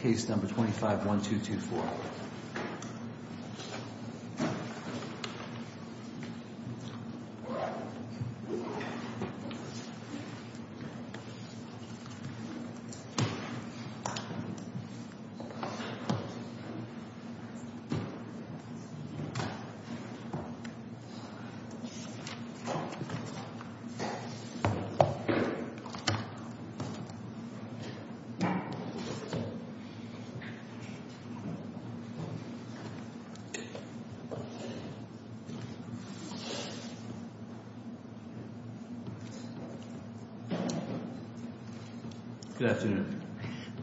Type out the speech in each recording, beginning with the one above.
Case No. 25-1224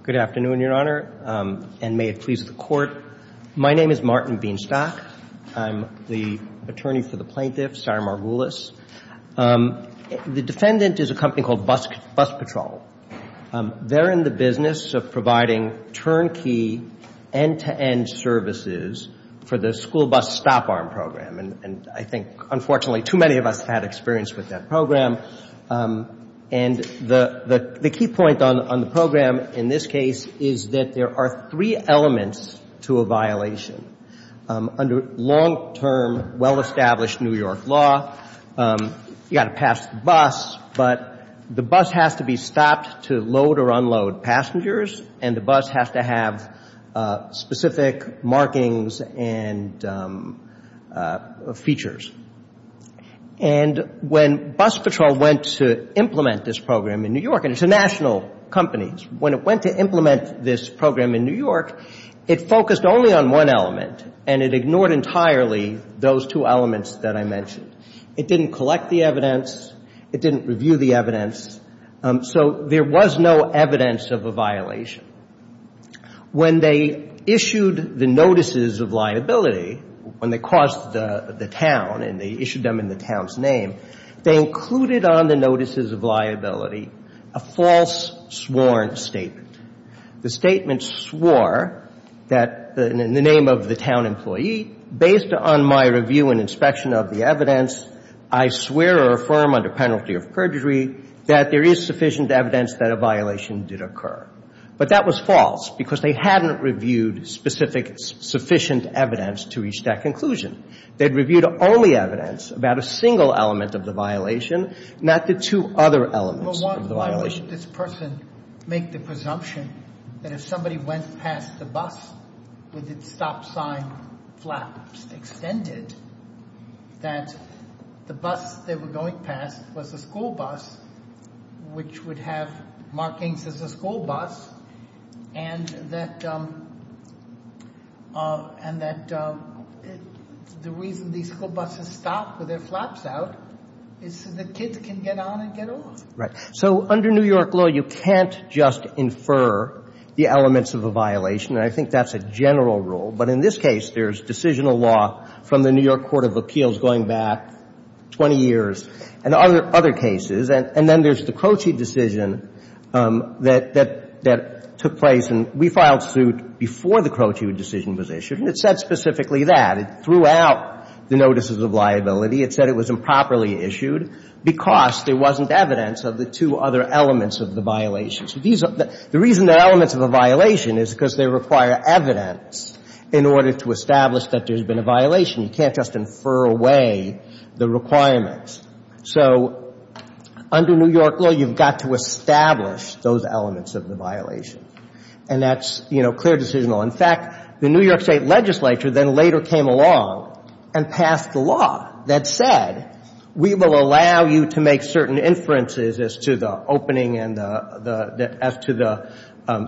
Good afternoon, Your Honor, and may it please the Court. My name is Martin Beanstock. I'm the attorney for the plaintiff, Sarah Morgulis. The defendant is a company called Bus Patrol. They're in the business of providing turnkey, end-to-end services for the school bus stop arm program. And I think, unfortunately, too many of us have had experience with that program. And the key point on the program in this case is that there are three elements to a violation. Under long-term, well-established New York law, you've got to pass the bus, but the bus has to be stopped to load or unload passengers, and the bus has to have specific markings and features. And when Bus Patrol went to implement this program in New York, and it's a national company, when it went to implement this program in New York, it focused only on one element, and it ignored entirely those two elements that I mentioned. It didn't collect the evidence. It didn't review the evidence. So there was no evidence of a violation. When they issued the notices of liability, when they crossed the town and they issued them in the town's name, they included on the notices of liability a false sworn statement. The statement swore that in the name of the town employee, based on my review and inspection of the evidence, I swear or affirm under penalty of perjury that there is sufficient evidence that a violation did occur. But that was false, because they hadn't reviewed specific sufficient evidence to reach that conclusion. They'd reviewed only evidence about a single element of the violation, not the two other elements of the violation. Why would this person make the presumption that if somebody went past the bus with its stop sign flaps extended, that the bus they were going past was a school bus, which would have markings as a school bus, and that the reason these school buses stop with their flaps out is so the kids can get on and get off? Right. So under New York law, you can't just infer the elements of a violation, and I think that's a general rule. But in this case, there's decisional law from the New York Court of Appeals going back 20 years and other cases. And then there's the Croce decision that took place. And we filed suit before the Croce decision was issued, and it said specifically that. It threw out the notices of liability. It said it was improperly issued because there wasn't evidence of the two other elements of the violation. So these are the reason the elements of a violation is because they require evidence in order to establish that there's been a violation. You can't just infer away the requirements. So under New York law, you've got to establish those elements of the violation. And that's, you know, clear decisional law. In fact, the New York State legislature then later came along and passed a law that said we will allow you to make certain inferences as to the opening and the – as to the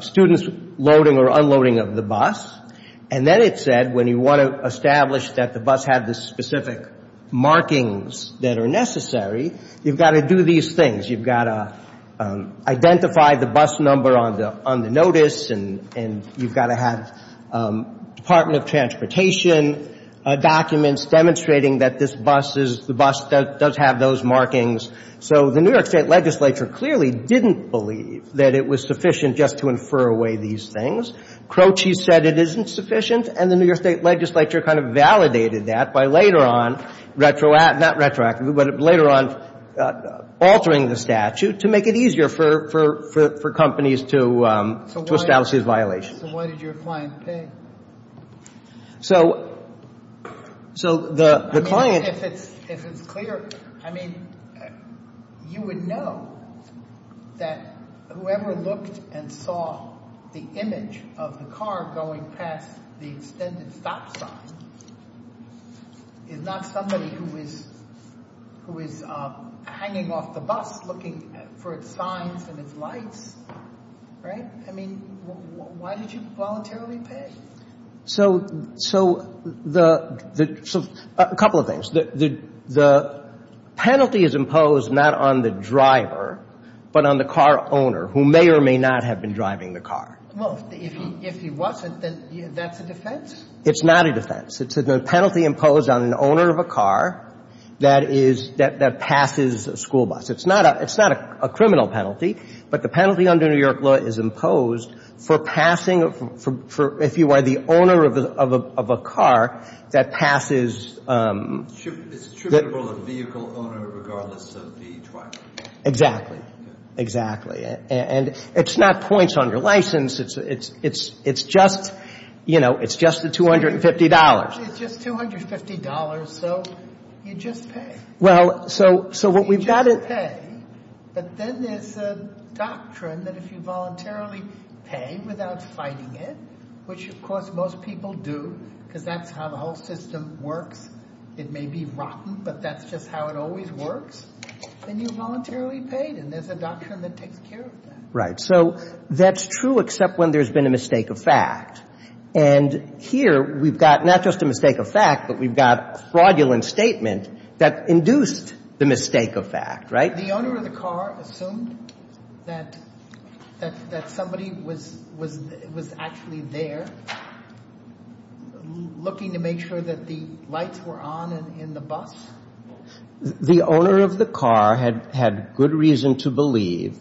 students loading or unloading of the bus. And then it said when you want to establish that the bus had the specific markings that are necessary, you've got to do these things. You've got to identify the bus number on the notice, and you've got to have Department of Transportation documents demonstrating that this bus is – the bus does have those markings. So the New York State legislature clearly didn't believe that it was sufficient just to infer away these things. Croce said it isn't sufficient, and the New York State legislature kind of validated that by later on – not retroactively, but later on altering the statute to make it easier for companies to establish these violations. So why did your client pay? So – so the client – I mean, if it's clear – I mean, you would know that whoever looked and saw the image of the car going past the extended stop sign is not somebody who is – who is hanging off the bus looking for its signs and its lights, right? I mean, why did you voluntarily pay? So – so the – a couple of things. The penalty is imposed not on the driver, but on the car owner who may or may not have been driving the car. Well, if he wasn't, then that's a defense? It's not a defense. It's a penalty imposed on an owner of a car that is – that passes a school bus. It's not a – it's not a criminal penalty, but the penalty under New York law is imposed for passing – for if you are the owner of a car that passes – It's attributable to the vehicle owner regardless of the driver. Exactly. Exactly. And it's not points on your license. It's just – you know, it's just the $250. It's just $250, so you just pay. Well, so – so what we've got – You just pay, but then there's a doctrine that if you voluntarily pay without fighting it, which, of course, most people do because that's how the whole system works. It may be rotten, but that's just how it always works. Then you voluntarily paid, and there's a doctrine that takes care of that. Right. So that's true except when there's been a mistake of fact. And here we've got not just a mistake of fact, but we've got fraudulent statement that induced the mistake of fact. Right? The owner of the car assumed that somebody was actually there looking to make sure that the lights were on in the bus? The owner of the car had good reason to believe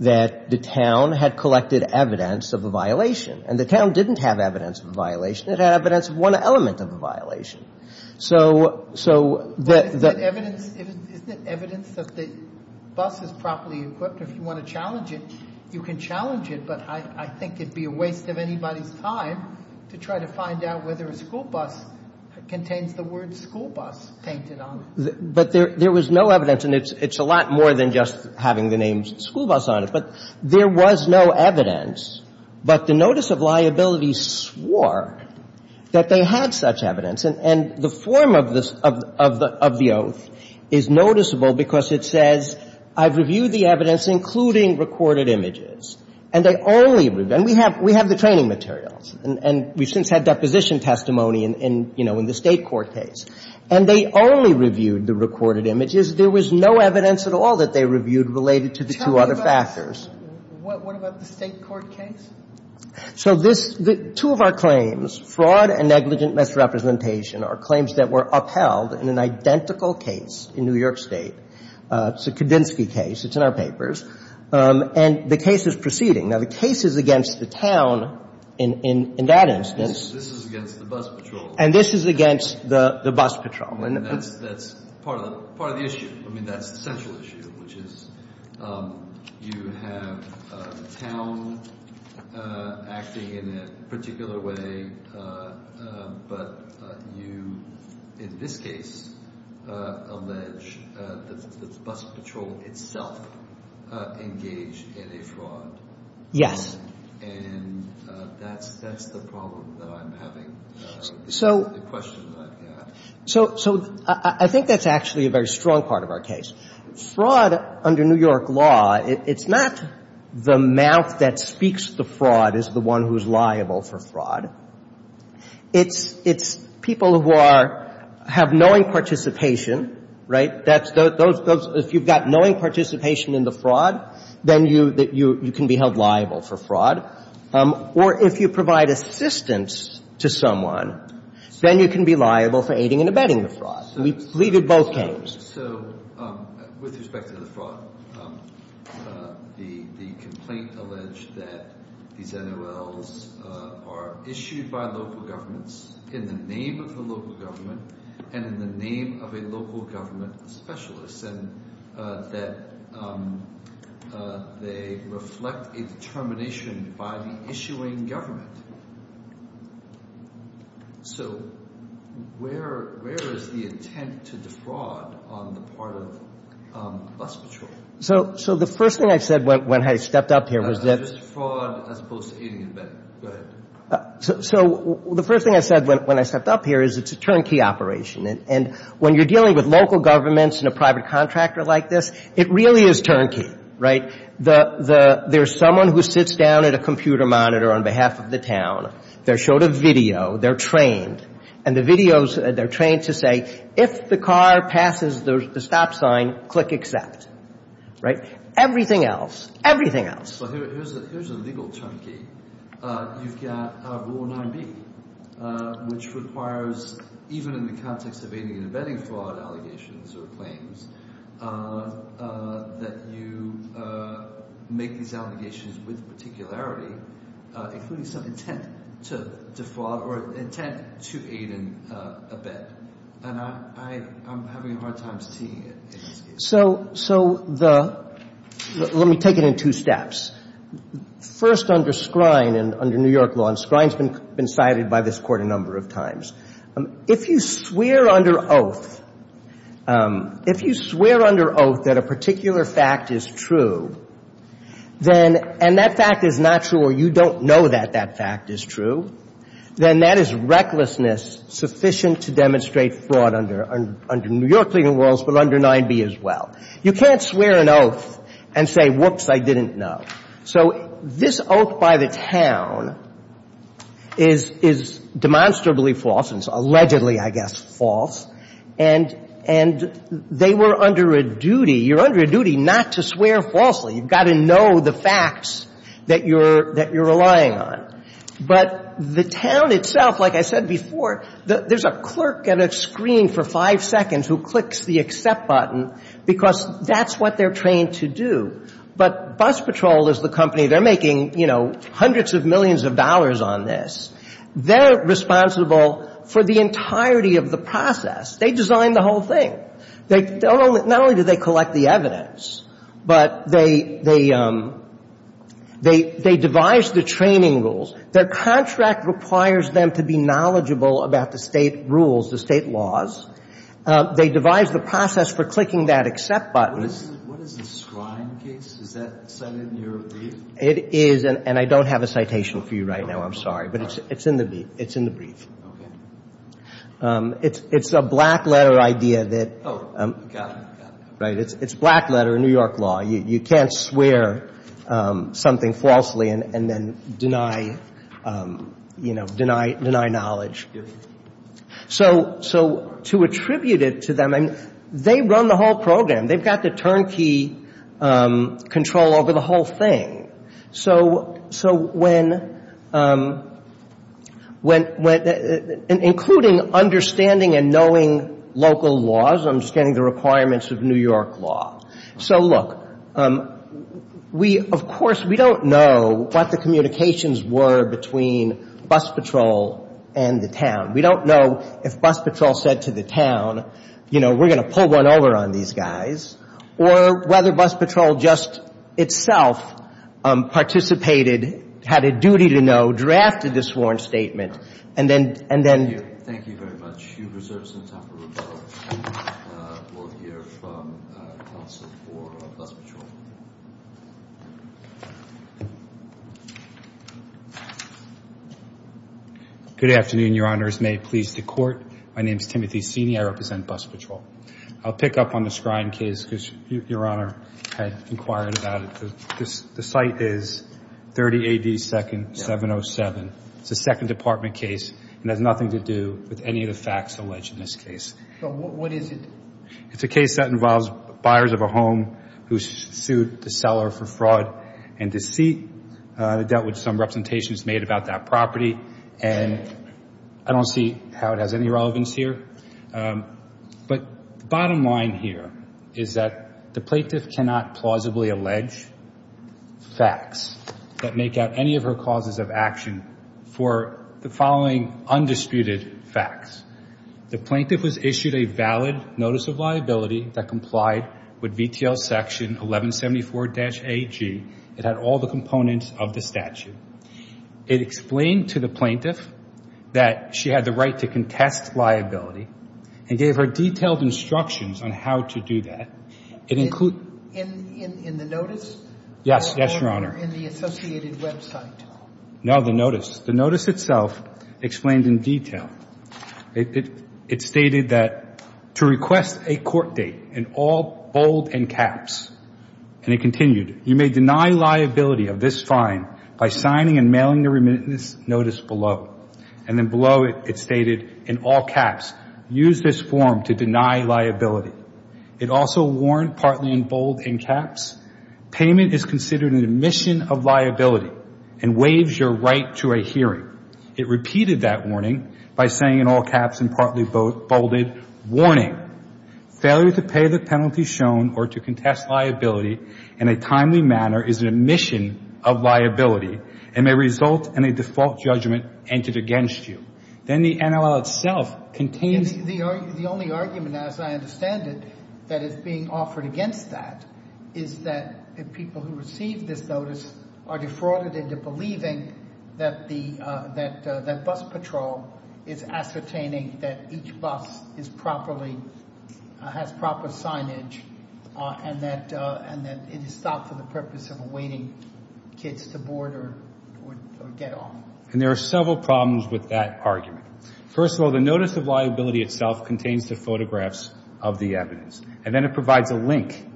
that the town had collected evidence of a violation, and the town didn't have evidence of a violation. It had evidence of one element of a violation. So the – But isn't it evidence – isn't it evidence that the bus is properly equipped? If you want to challenge it, you can challenge it, but I think it would be a waste of anybody's time to try to find out whether a school bus contains the word school bus painted on it. But there was no evidence, and it's a lot more than just having the name school bus on it. But there was no evidence. But the notice of liability swore that they had such evidence. And the form of the oath is noticeable because it says, I've reviewed the evidence, including recorded images. And they only – and we have the training materials. And we've since had deposition testimony in, you know, in the State court case. And they only reviewed the recorded images. There was no evidence at all that they reviewed related to the two other factors. What about the State court case? So this – two of our claims, fraud and negligent misrepresentation, are claims that were upheld in an identical case in New York State. It's a Kudinski case. It's in our papers. And the case is proceeding. Now, the case is against the town in that instance. This is against the bus patrol. And this is against the bus patrol. And that's part of the issue. I mean, that's the central issue, which is you have the town acting in a particular way. But you, in this case, allege that the bus patrol itself engaged in a fraud. Yes. And that's the problem that I'm having, the question that I've got. So I think that's actually a very strong part of our case. Fraud under New York law, it's not the mouth that speaks the fraud is the one who's liable for fraud. It's people who are – have knowing participation, right? That's those – if you've got knowing participation in the fraud, then you can be held liable for fraud. Or if you provide assistance to someone, then you can be liable for aiding and abetting the fraud. We believe in both cases. So with respect to the fraud, the complaint alleged that these NOLs are issued by local governments in the name of the local government and in the name of a local government specialist, and that they reflect a determination by the issuing government. So where is the intent to defraud on the part of bus patrol? So the first thing I said when I stepped up here was that – Just fraud as opposed to aiding and abetting. Go ahead. So the first thing I said when I stepped up here is it's a turnkey operation. And when you're dealing with local governments and a private contractor like this, it really is turnkey, right? There's someone who sits down at a computer monitor on behalf of the town. They're showed a video. They're trained. And the video's – they're trained to say, if the car passes the stop sign, click accept, right? Everything else, everything else. So here's a legal turnkey. You've got Rule 9b, which requires, even in the context of aiding and abetting fraud allegations or claims, that you make these allegations with particularity, including some intent to defraud or intent to aid and abet. And I'm having a hard time seeing it in this case. So the – let me take it in two steps. First, under Skrine and under New York law, and Skrine's been cited by this Court a number of times, if you swear under oath – if you swear under oath that a particular fact is true, then – and that fact is not true or you don't know that that fact is true, then that is recklessness sufficient to demonstrate fraud under New York legal rules but under 9b as well. You can't swear an oath and say, whoops, I didn't know. So this oath by the town is demonstrably false, and it's allegedly, I guess, false. And they were under a duty – you're under a duty not to swear falsely. You've got to know the facts that you're relying on. But the town itself, like I said before, there's a clerk at a screen for five seconds who clicks the accept button because that's what they're trained to do. But Bus Patrol is the company. They're making, you know, hundreds of millions of dollars on this. They're responsible for the entirety of the process. They designed the whole thing. Not only do they collect the evidence, but they devise the training rules. Their contract requires them to be knowledgeable about the State rules, the State laws. They devise the process for clicking that accept button. What is the scribe case? Is that cited in your brief? It is, and I don't have a citation for you right now. I'm sorry. But it's in the brief. Okay. It's a black letter idea that – Oh, got it, got it. Right. It's a black letter in New York law. You can't swear something falsely and then deny, you know, deny knowledge. So to attribute it to them, I mean, they run the whole program. They've got the turnkey control over the whole thing. So when – including understanding and knowing local laws, understanding the requirements of New York law. So, look, we, of course, we don't know what the communications were between bus patrol and the town. We don't know if bus patrol said to the town, you know, we're going to pull one over on these guys or whether bus patrol just itself participated, had a duty to know, drafted the sworn statement, and then – Thank you. Thank you very much. You've reserved some time for rebuttal. We'll hear from counsel for bus patrol. Good afternoon, Your Honors. May it please the Court. My name is Timothy Sini. I represent bus patrol. I'll pick up on the Scrine case because Your Honor had inquired about it. The site is 30 AD 2nd, 707. It's a Second Department case and has nothing to do with any of the facts alleged in this case. So what is it? It's a case that involves buyers of a home who sued the seller for fraud and deceit. They dealt with some representations made about that property, and I don't see how it has any relevance here. But the bottom line here is that the plaintiff cannot plausibly allege facts that make up any of her causes of action for the following undisputed facts. The plaintiff was issued a valid notice of liability that complied with VTL section 1174-AG. It had all the components of the statute. It explained to the plaintiff that she had the right to contest liability and gave her detailed instructions on how to do that. It included ---- In the notice? Yes. Yes, Your Honor. Or in the associated website? No, the notice. The notice itself explained in detail. It stated that to request a court date in all bold and caps. And it continued, You may deny liability of this fine by signing and mailing the remittance notice below. And then below it, it stated, In all caps, use this form to deny liability. It also warned partly in bold and caps, Payment is considered an admission of liability and waives your right to a hearing. It repeated that warning by saying in all caps and partly bolded, Failure to pay the penalty shown or to contest liability in a timely manner is an admission of liability and may result in a default judgment entered against you. Then the NLL itself contains ---- The only argument, as I understand it, that is being offered against that is that the people who receive this notice are defrauded into believing that the ---- that bus patrol is ascertaining that each bus is properly, has proper signage and that it is stopped for the purpose of awaiting kids to board or get off. And there are several problems with that argument. First of all, the notice of liability itself contains the photographs of the evidence. And then it provides a link.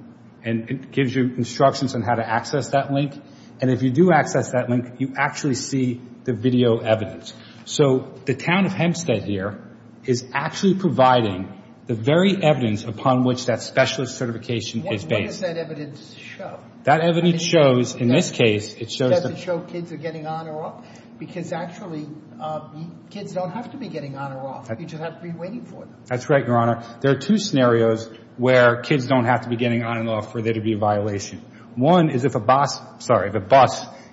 And it gives you instructions on how to access that link. And if you do access that link, you actually see the video evidence. So the town of Hempstead here is actually providing the very evidence upon which that specialist certification is based. What does that evidence show? That evidence shows, in this case, it shows the ---- Does it show kids are getting on or off? Because actually kids don't have to be getting on or off. You just have to be waiting for them. That's right, Your Honor. There are two scenarios where kids don't have to be getting on and off for there to be a violation. One is if a bus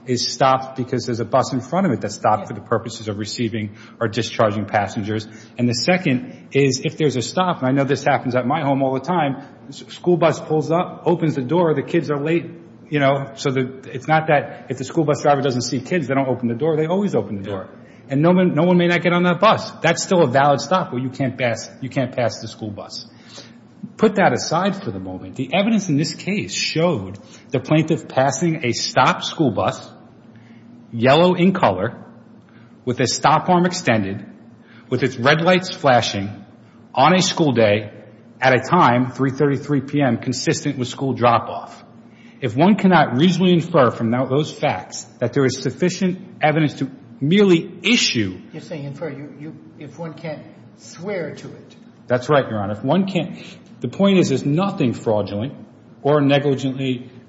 is stopped because there's a bus in front of it that's stopped for the purposes of receiving or discharging passengers. And the second is if there's a stop, and I know this happens at my home all the time, school bus pulls up, opens the door, the kids are late, you know, so it's not that if the school bus driver doesn't see kids, they don't open the door. They always open the door. And no one may not get on that bus. That's still a valid stop where you can't pass the school bus. Put that aside for the moment. The evidence in this case showed the plaintiff passing a stopped school bus, yellow in color, with a stop arm extended, with its red lights flashing, on a school day, at a time, 333 p.m., consistent with school drop-off. If one cannot reasonably infer from those facts that there is sufficient evidence to merely issue ---- You're saying infer if one can't swear to it. That's right, Your Honor. The point is there's nothing fraudulent or negligent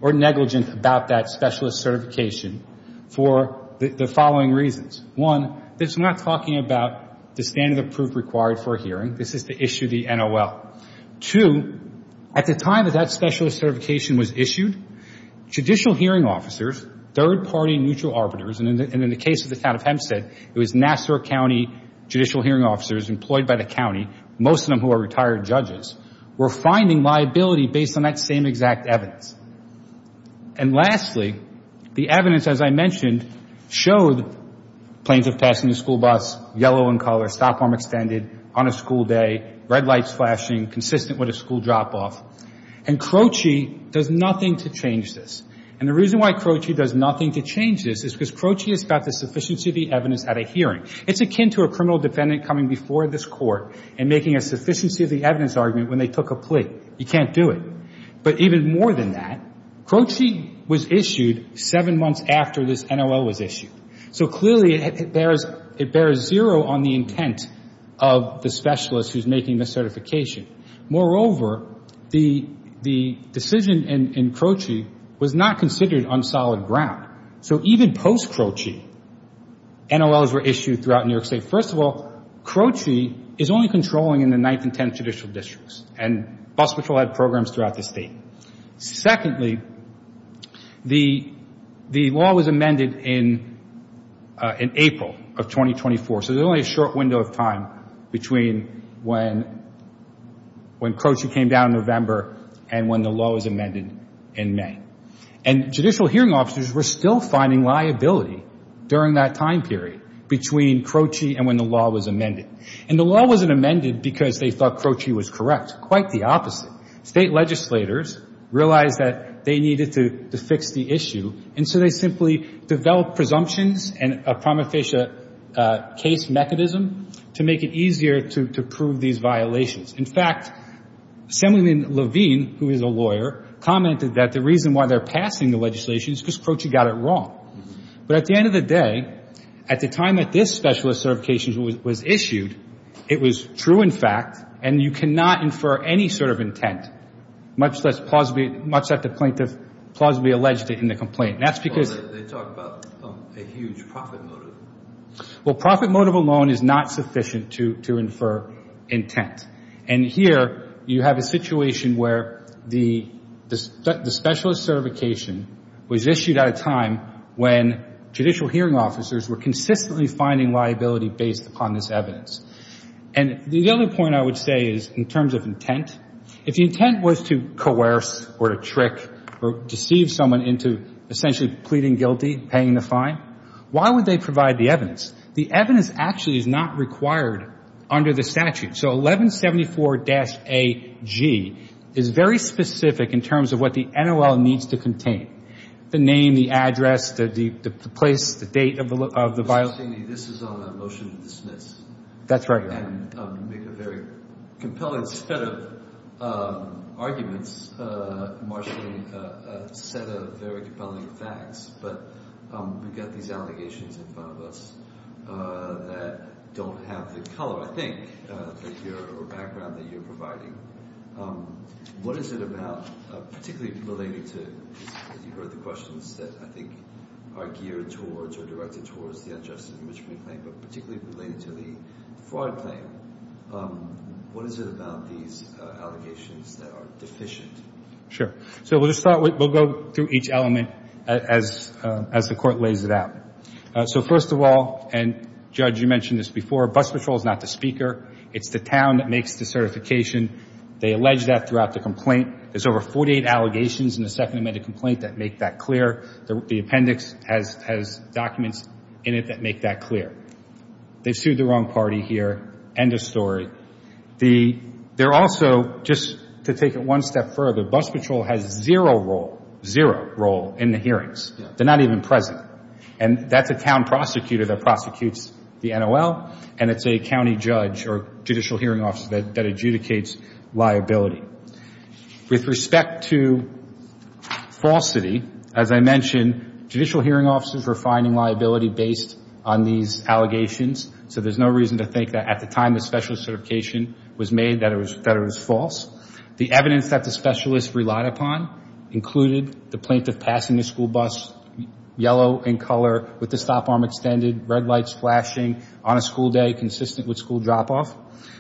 about that specialist certification for the following reasons. One, it's not talking about the standard of proof required for a hearing. This is to issue the NOL. Two, at the time that that specialist certification was issued, judicial hearing officers, third-party neutral arbiters, and in the case of the town of Hempstead, it was Nassau County judicial hearing officers employed by the county, most of them who are retired judges, were finding liability based on that same exact evidence. And lastly, the evidence, as I mentioned, showed the plaintiff passing the school bus, yellow in color, stop arm extended, on a school day, red lights flashing, consistent with a school drop-off. And Croci does nothing to change this. And the reason why Croci does nothing to change this is because Croci is about the sufficiency of the evidence at a hearing. It's akin to a criminal defendant coming before this court and making a sufficiency of the evidence argument when they took a plea. You can't do it. But even more than that, Croci was issued seven months after this NOL was issued. So clearly it bears zero on the intent of the specialist who's making the certification. Moreover, the decision in Croci was not considered on solid ground. So even post-Croci, NOLs were issued throughout New York State. First of all, Croci is only controlling in the 9th and 10th judicial districts, and bus patrol had programs throughout the state. Secondly, the law was amended in April of 2024, so there's only a short window of time between when Croci came down in November and when the law was amended in May. And judicial hearing officers were still finding liability during that time period between Croci and when the law was amended. And the law wasn't amended because they thought Croci was correct. Quite the opposite. State legislators realized that they needed to fix the issue, and so they simply developed presumptions and a prima facie case mechanism to make it easier to prove these violations. In fact, Assemblyman Levine, who is a lawyer, commented that the reason why they're passing the legislation is because Croci got it wrong. But at the end of the day, at the time that this specialist certification was issued, it was true, in fact, and you cannot infer any sort of intent, much that the plaintiff plausibly alleged it in the complaint. And that's because they talked about a huge profit motive. Well, profit motive alone is not sufficient to infer intent. And here you have a situation where the specialist certification was issued at a time when judicial hearing officers were consistently finding liability based upon this evidence. And the other point I would say is in terms of intent, if the intent was to coerce or to trick or deceive someone into essentially pleading guilty, paying the fine, why would they provide the evidence? The evidence actually is not required under the statute. So 1174-AG is very specific in terms of what the NOL needs to contain, the name, the address, the place, the date of the violation. This is on a motion to dismiss. That's right. And make a very compelling set of arguments, marshalling a set of very compelling facts, but we've got these allegations in front of us that don't have the color, I think, or background that you're providing. What is it about, particularly related to, as you heard the questions that I think are geared towards or directed towards the unjustified impeachment claim, but particularly related to the fraud claim, what is it about these allegations that are deficient? Sure. So we'll go through each element as the Court lays it out. So first of all, and, Judge, you mentioned this before, bus patrol is not the speaker. It's the town that makes the certification. They allege that throughout the complaint. There's over 48 allegations in the second amended complaint that make that clear. The appendix has documents in it that make that clear. They sued the wrong party here. End of story. They're also, just to take it one step further, bus patrol has zero role, zero role in the hearings. They're not even present. And that's a town prosecutor that prosecutes the NOL, and it's a county judge or judicial hearing officer that adjudicates liability. With respect to falsity, as I mentioned, judicial hearing officers were finding liability based on these allegations. So there's no reason to think that at the time the specialist certification was made that it was false. The evidence that the specialist relied upon included the plaintiff passing the school bus, yellow in color with the stop arm extended, red lights flashing on a school day consistent with school drop-off.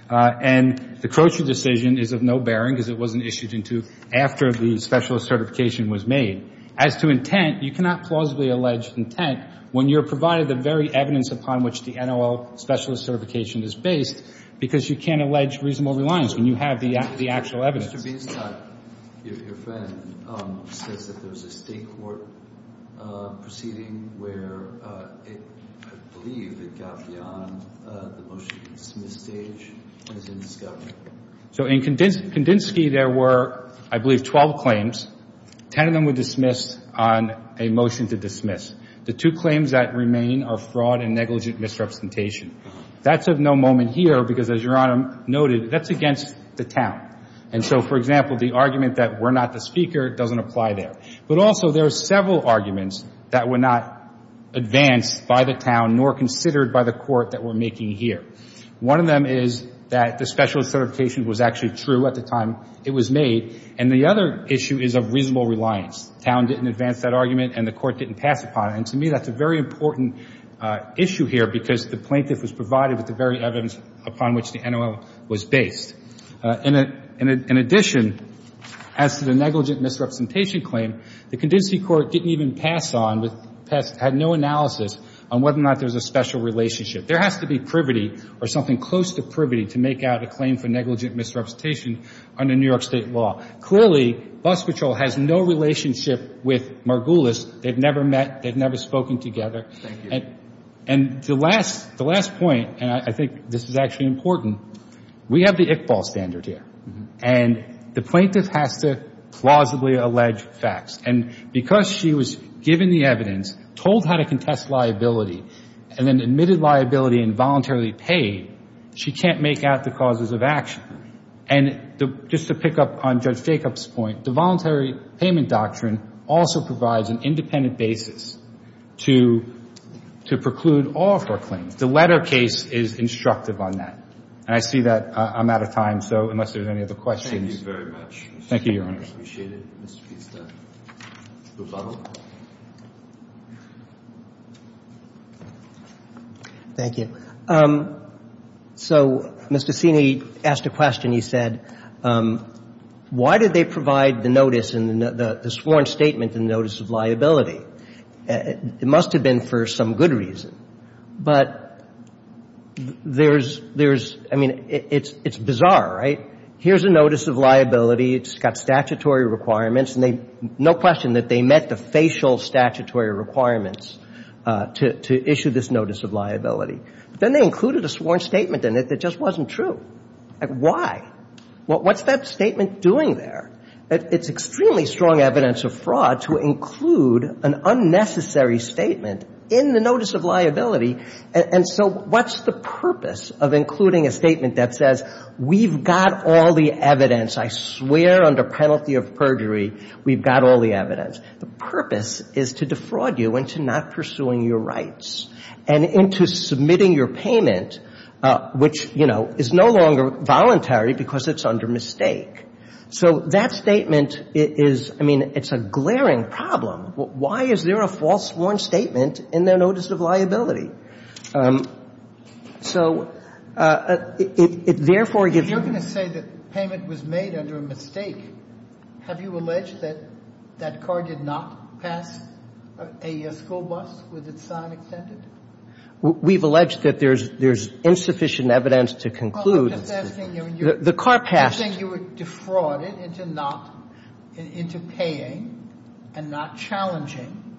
And the Croce decision is of no bearing because it wasn't issued until after the specialist certification was made. As to intent, you cannot plausibly allege intent when you're provided the very evidence upon which the NOL specialist certification is based because you can't allege reasonable reliance when you have the actual evidence. Mr. Beasley, your friend says that there was a state court proceeding where it, I believe, it got beyond the motion-to-dismiss stage and is in discovery. So in Kandinsky, there were, I believe, 12 claims. Ten of them were dismissed on a motion-to-dismiss. The two claims that remain are fraud and negligent misrepresentation. That's of no moment here because, as Your Honor noted, that's against the town. And so, for example, the argument that we're not the speaker doesn't apply there. But also there are several arguments that were not advanced by the town nor considered by the court that we're making here. One of them is that the specialist certification was actually true at the time it was made. And the other issue is of reasonable reliance. Town didn't advance that argument and the court didn't pass upon it. And to me, that's a very important issue here because the plaintiff was provided with the very evidence upon which the NOL was based. In addition, as to the negligent misrepresentation claim, the Kandinsky court didn't even pass on, had no analysis on whether or not there's a special relationship. There has to be privity or something close to privity to make out a claim for negligent misrepresentation under New York State law. Clearly, bus patrol has no relationship with Margulis. They've never met. They've never spoken together. And the last point, and I think this is actually important, we have the Iqbal standard here. And the plaintiff has to plausibly allege facts. And because she was given the evidence, told how to contest liability, and then admitted liability and voluntarily paid, she can't make out the causes of action. And just to pick up on Judge Jacob's point, the voluntary payment doctrine also provides an independent basis to preclude all of her claims. The letter case is instructive on that. And I see that I'm out of time, so unless there's any other questions. Thank you very much. Thank you, Your Honor. I appreciate it. Mr. Pista, the bubble. Thank you. So Mr. Ceney asked a question. He said, why did they provide the notice, the sworn statement, the notice of liability? It must have been for some good reason. But there's, I mean, it's bizarre, right? Here's a notice of liability. It's got statutory requirements. No question that they met the facial statutory requirements to issue this notice of liability. But then they included a sworn statement in it that just wasn't true. Why? What's that statement doing there? It's extremely strong evidence of fraud to include an unnecessary statement in the notice of liability. And so what's the purpose of including a statement that says we've got all the evidence, I swear under penalty of perjury we've got all the evidence? The purpose is to defraud you into not pursuing your rights and into submitting your payment, which, you know, is no longer voluntary because it's under mistake. So that statement is, I mean, it's a glaring problem. Why is there a false sworn statement in their notice of liability? So therefore, if you're going to say that payment was made under a mistake, have you alleged that that car did not pass a school bus with its sign extended? We've alleged that there's insufficient evidence to conclude the car passed. I'm just asking, you were defrauding into not, into paying and not challenging.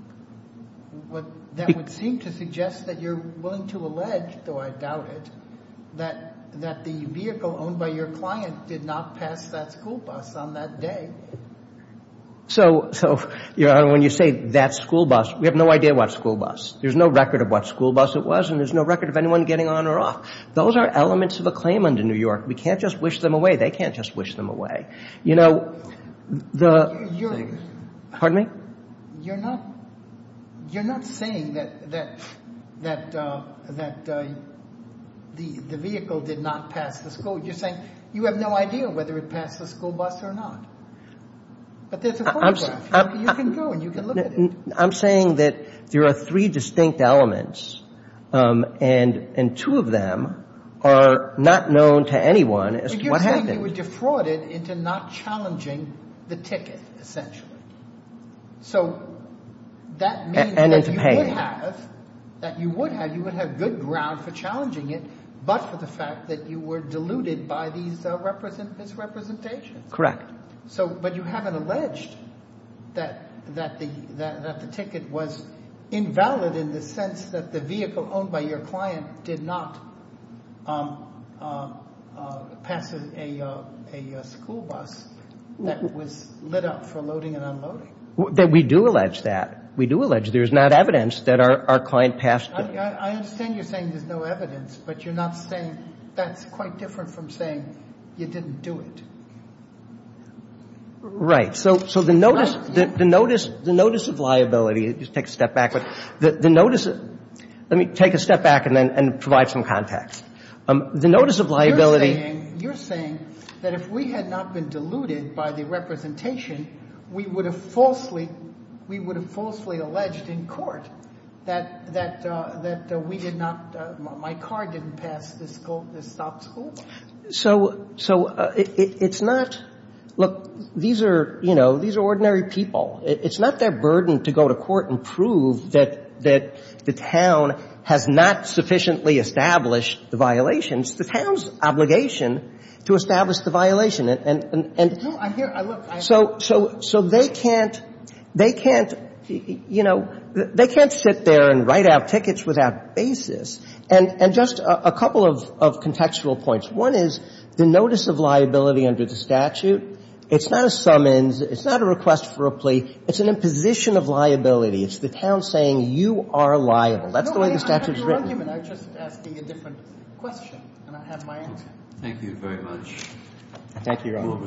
That would seem to suggest that you're willing to allege, though I doubt it, that the vehicle owned by your client did not pass that school bus on that day. So, Your Honor, when you say that school bus, we have no idea what school bus. There's no record of what school bus it was, and there's no record of anyone getting on or off. Those are elements of a claim under New York. We can't just wish them away. They can't just wish them away. You know, the — You're — Pardon me? You're not saying that the vehicle did not pass the school. You're saying you have no idea whether it passed the school bus or not. But there's a photograph. You can go and you can look at it. I'm saying that there are three distinct elements, and two of them are not known to anyone as to what happened. You're saying you were defrauded into not challenging the ticket, essentially. So that means that you would have —— that you would have good ground for challenging it, but for the fact that you were deluded by these misrepresentations. Correct. So — but you haven't alleged that the ticket was invalid in the sense that the vehicle owned by your client did not pass a school bus that was lit up for loading and unloading. We do allege that. We do allege there's not evidence that our client passed it. I understand you're saying there's no evidence, but you're not saying — that's quite different from saying you didn't do it. Right. So the notice — the notice of liability — just take a step back. The notice — let me take a step back and then provide some context. The notice of liability — You're saying — you're saying that if we had not been deluded by the representation, we would have falsely — we would have falsely alleged in court that we did not — my car didn't pass this stop school bus. So it's not — look, these are, you know, these are ordinary people. It's not their burden to go to court and prove that the town has not sufficiently established the violations. It's the town's obligation to establish the violation. And so they can't — they can't — you know, they can't sit there and write out tickets without basis. And just a couple of contextual points. One is the notice of liability under the statute, it's not a summons. It's not a request for a plea. It's an imposition of liability. It's the town saying you are liable. That's the way the statute is written. I'm just asking a different question, and I have my answer. Thank you very much. Thank you, Your Honor.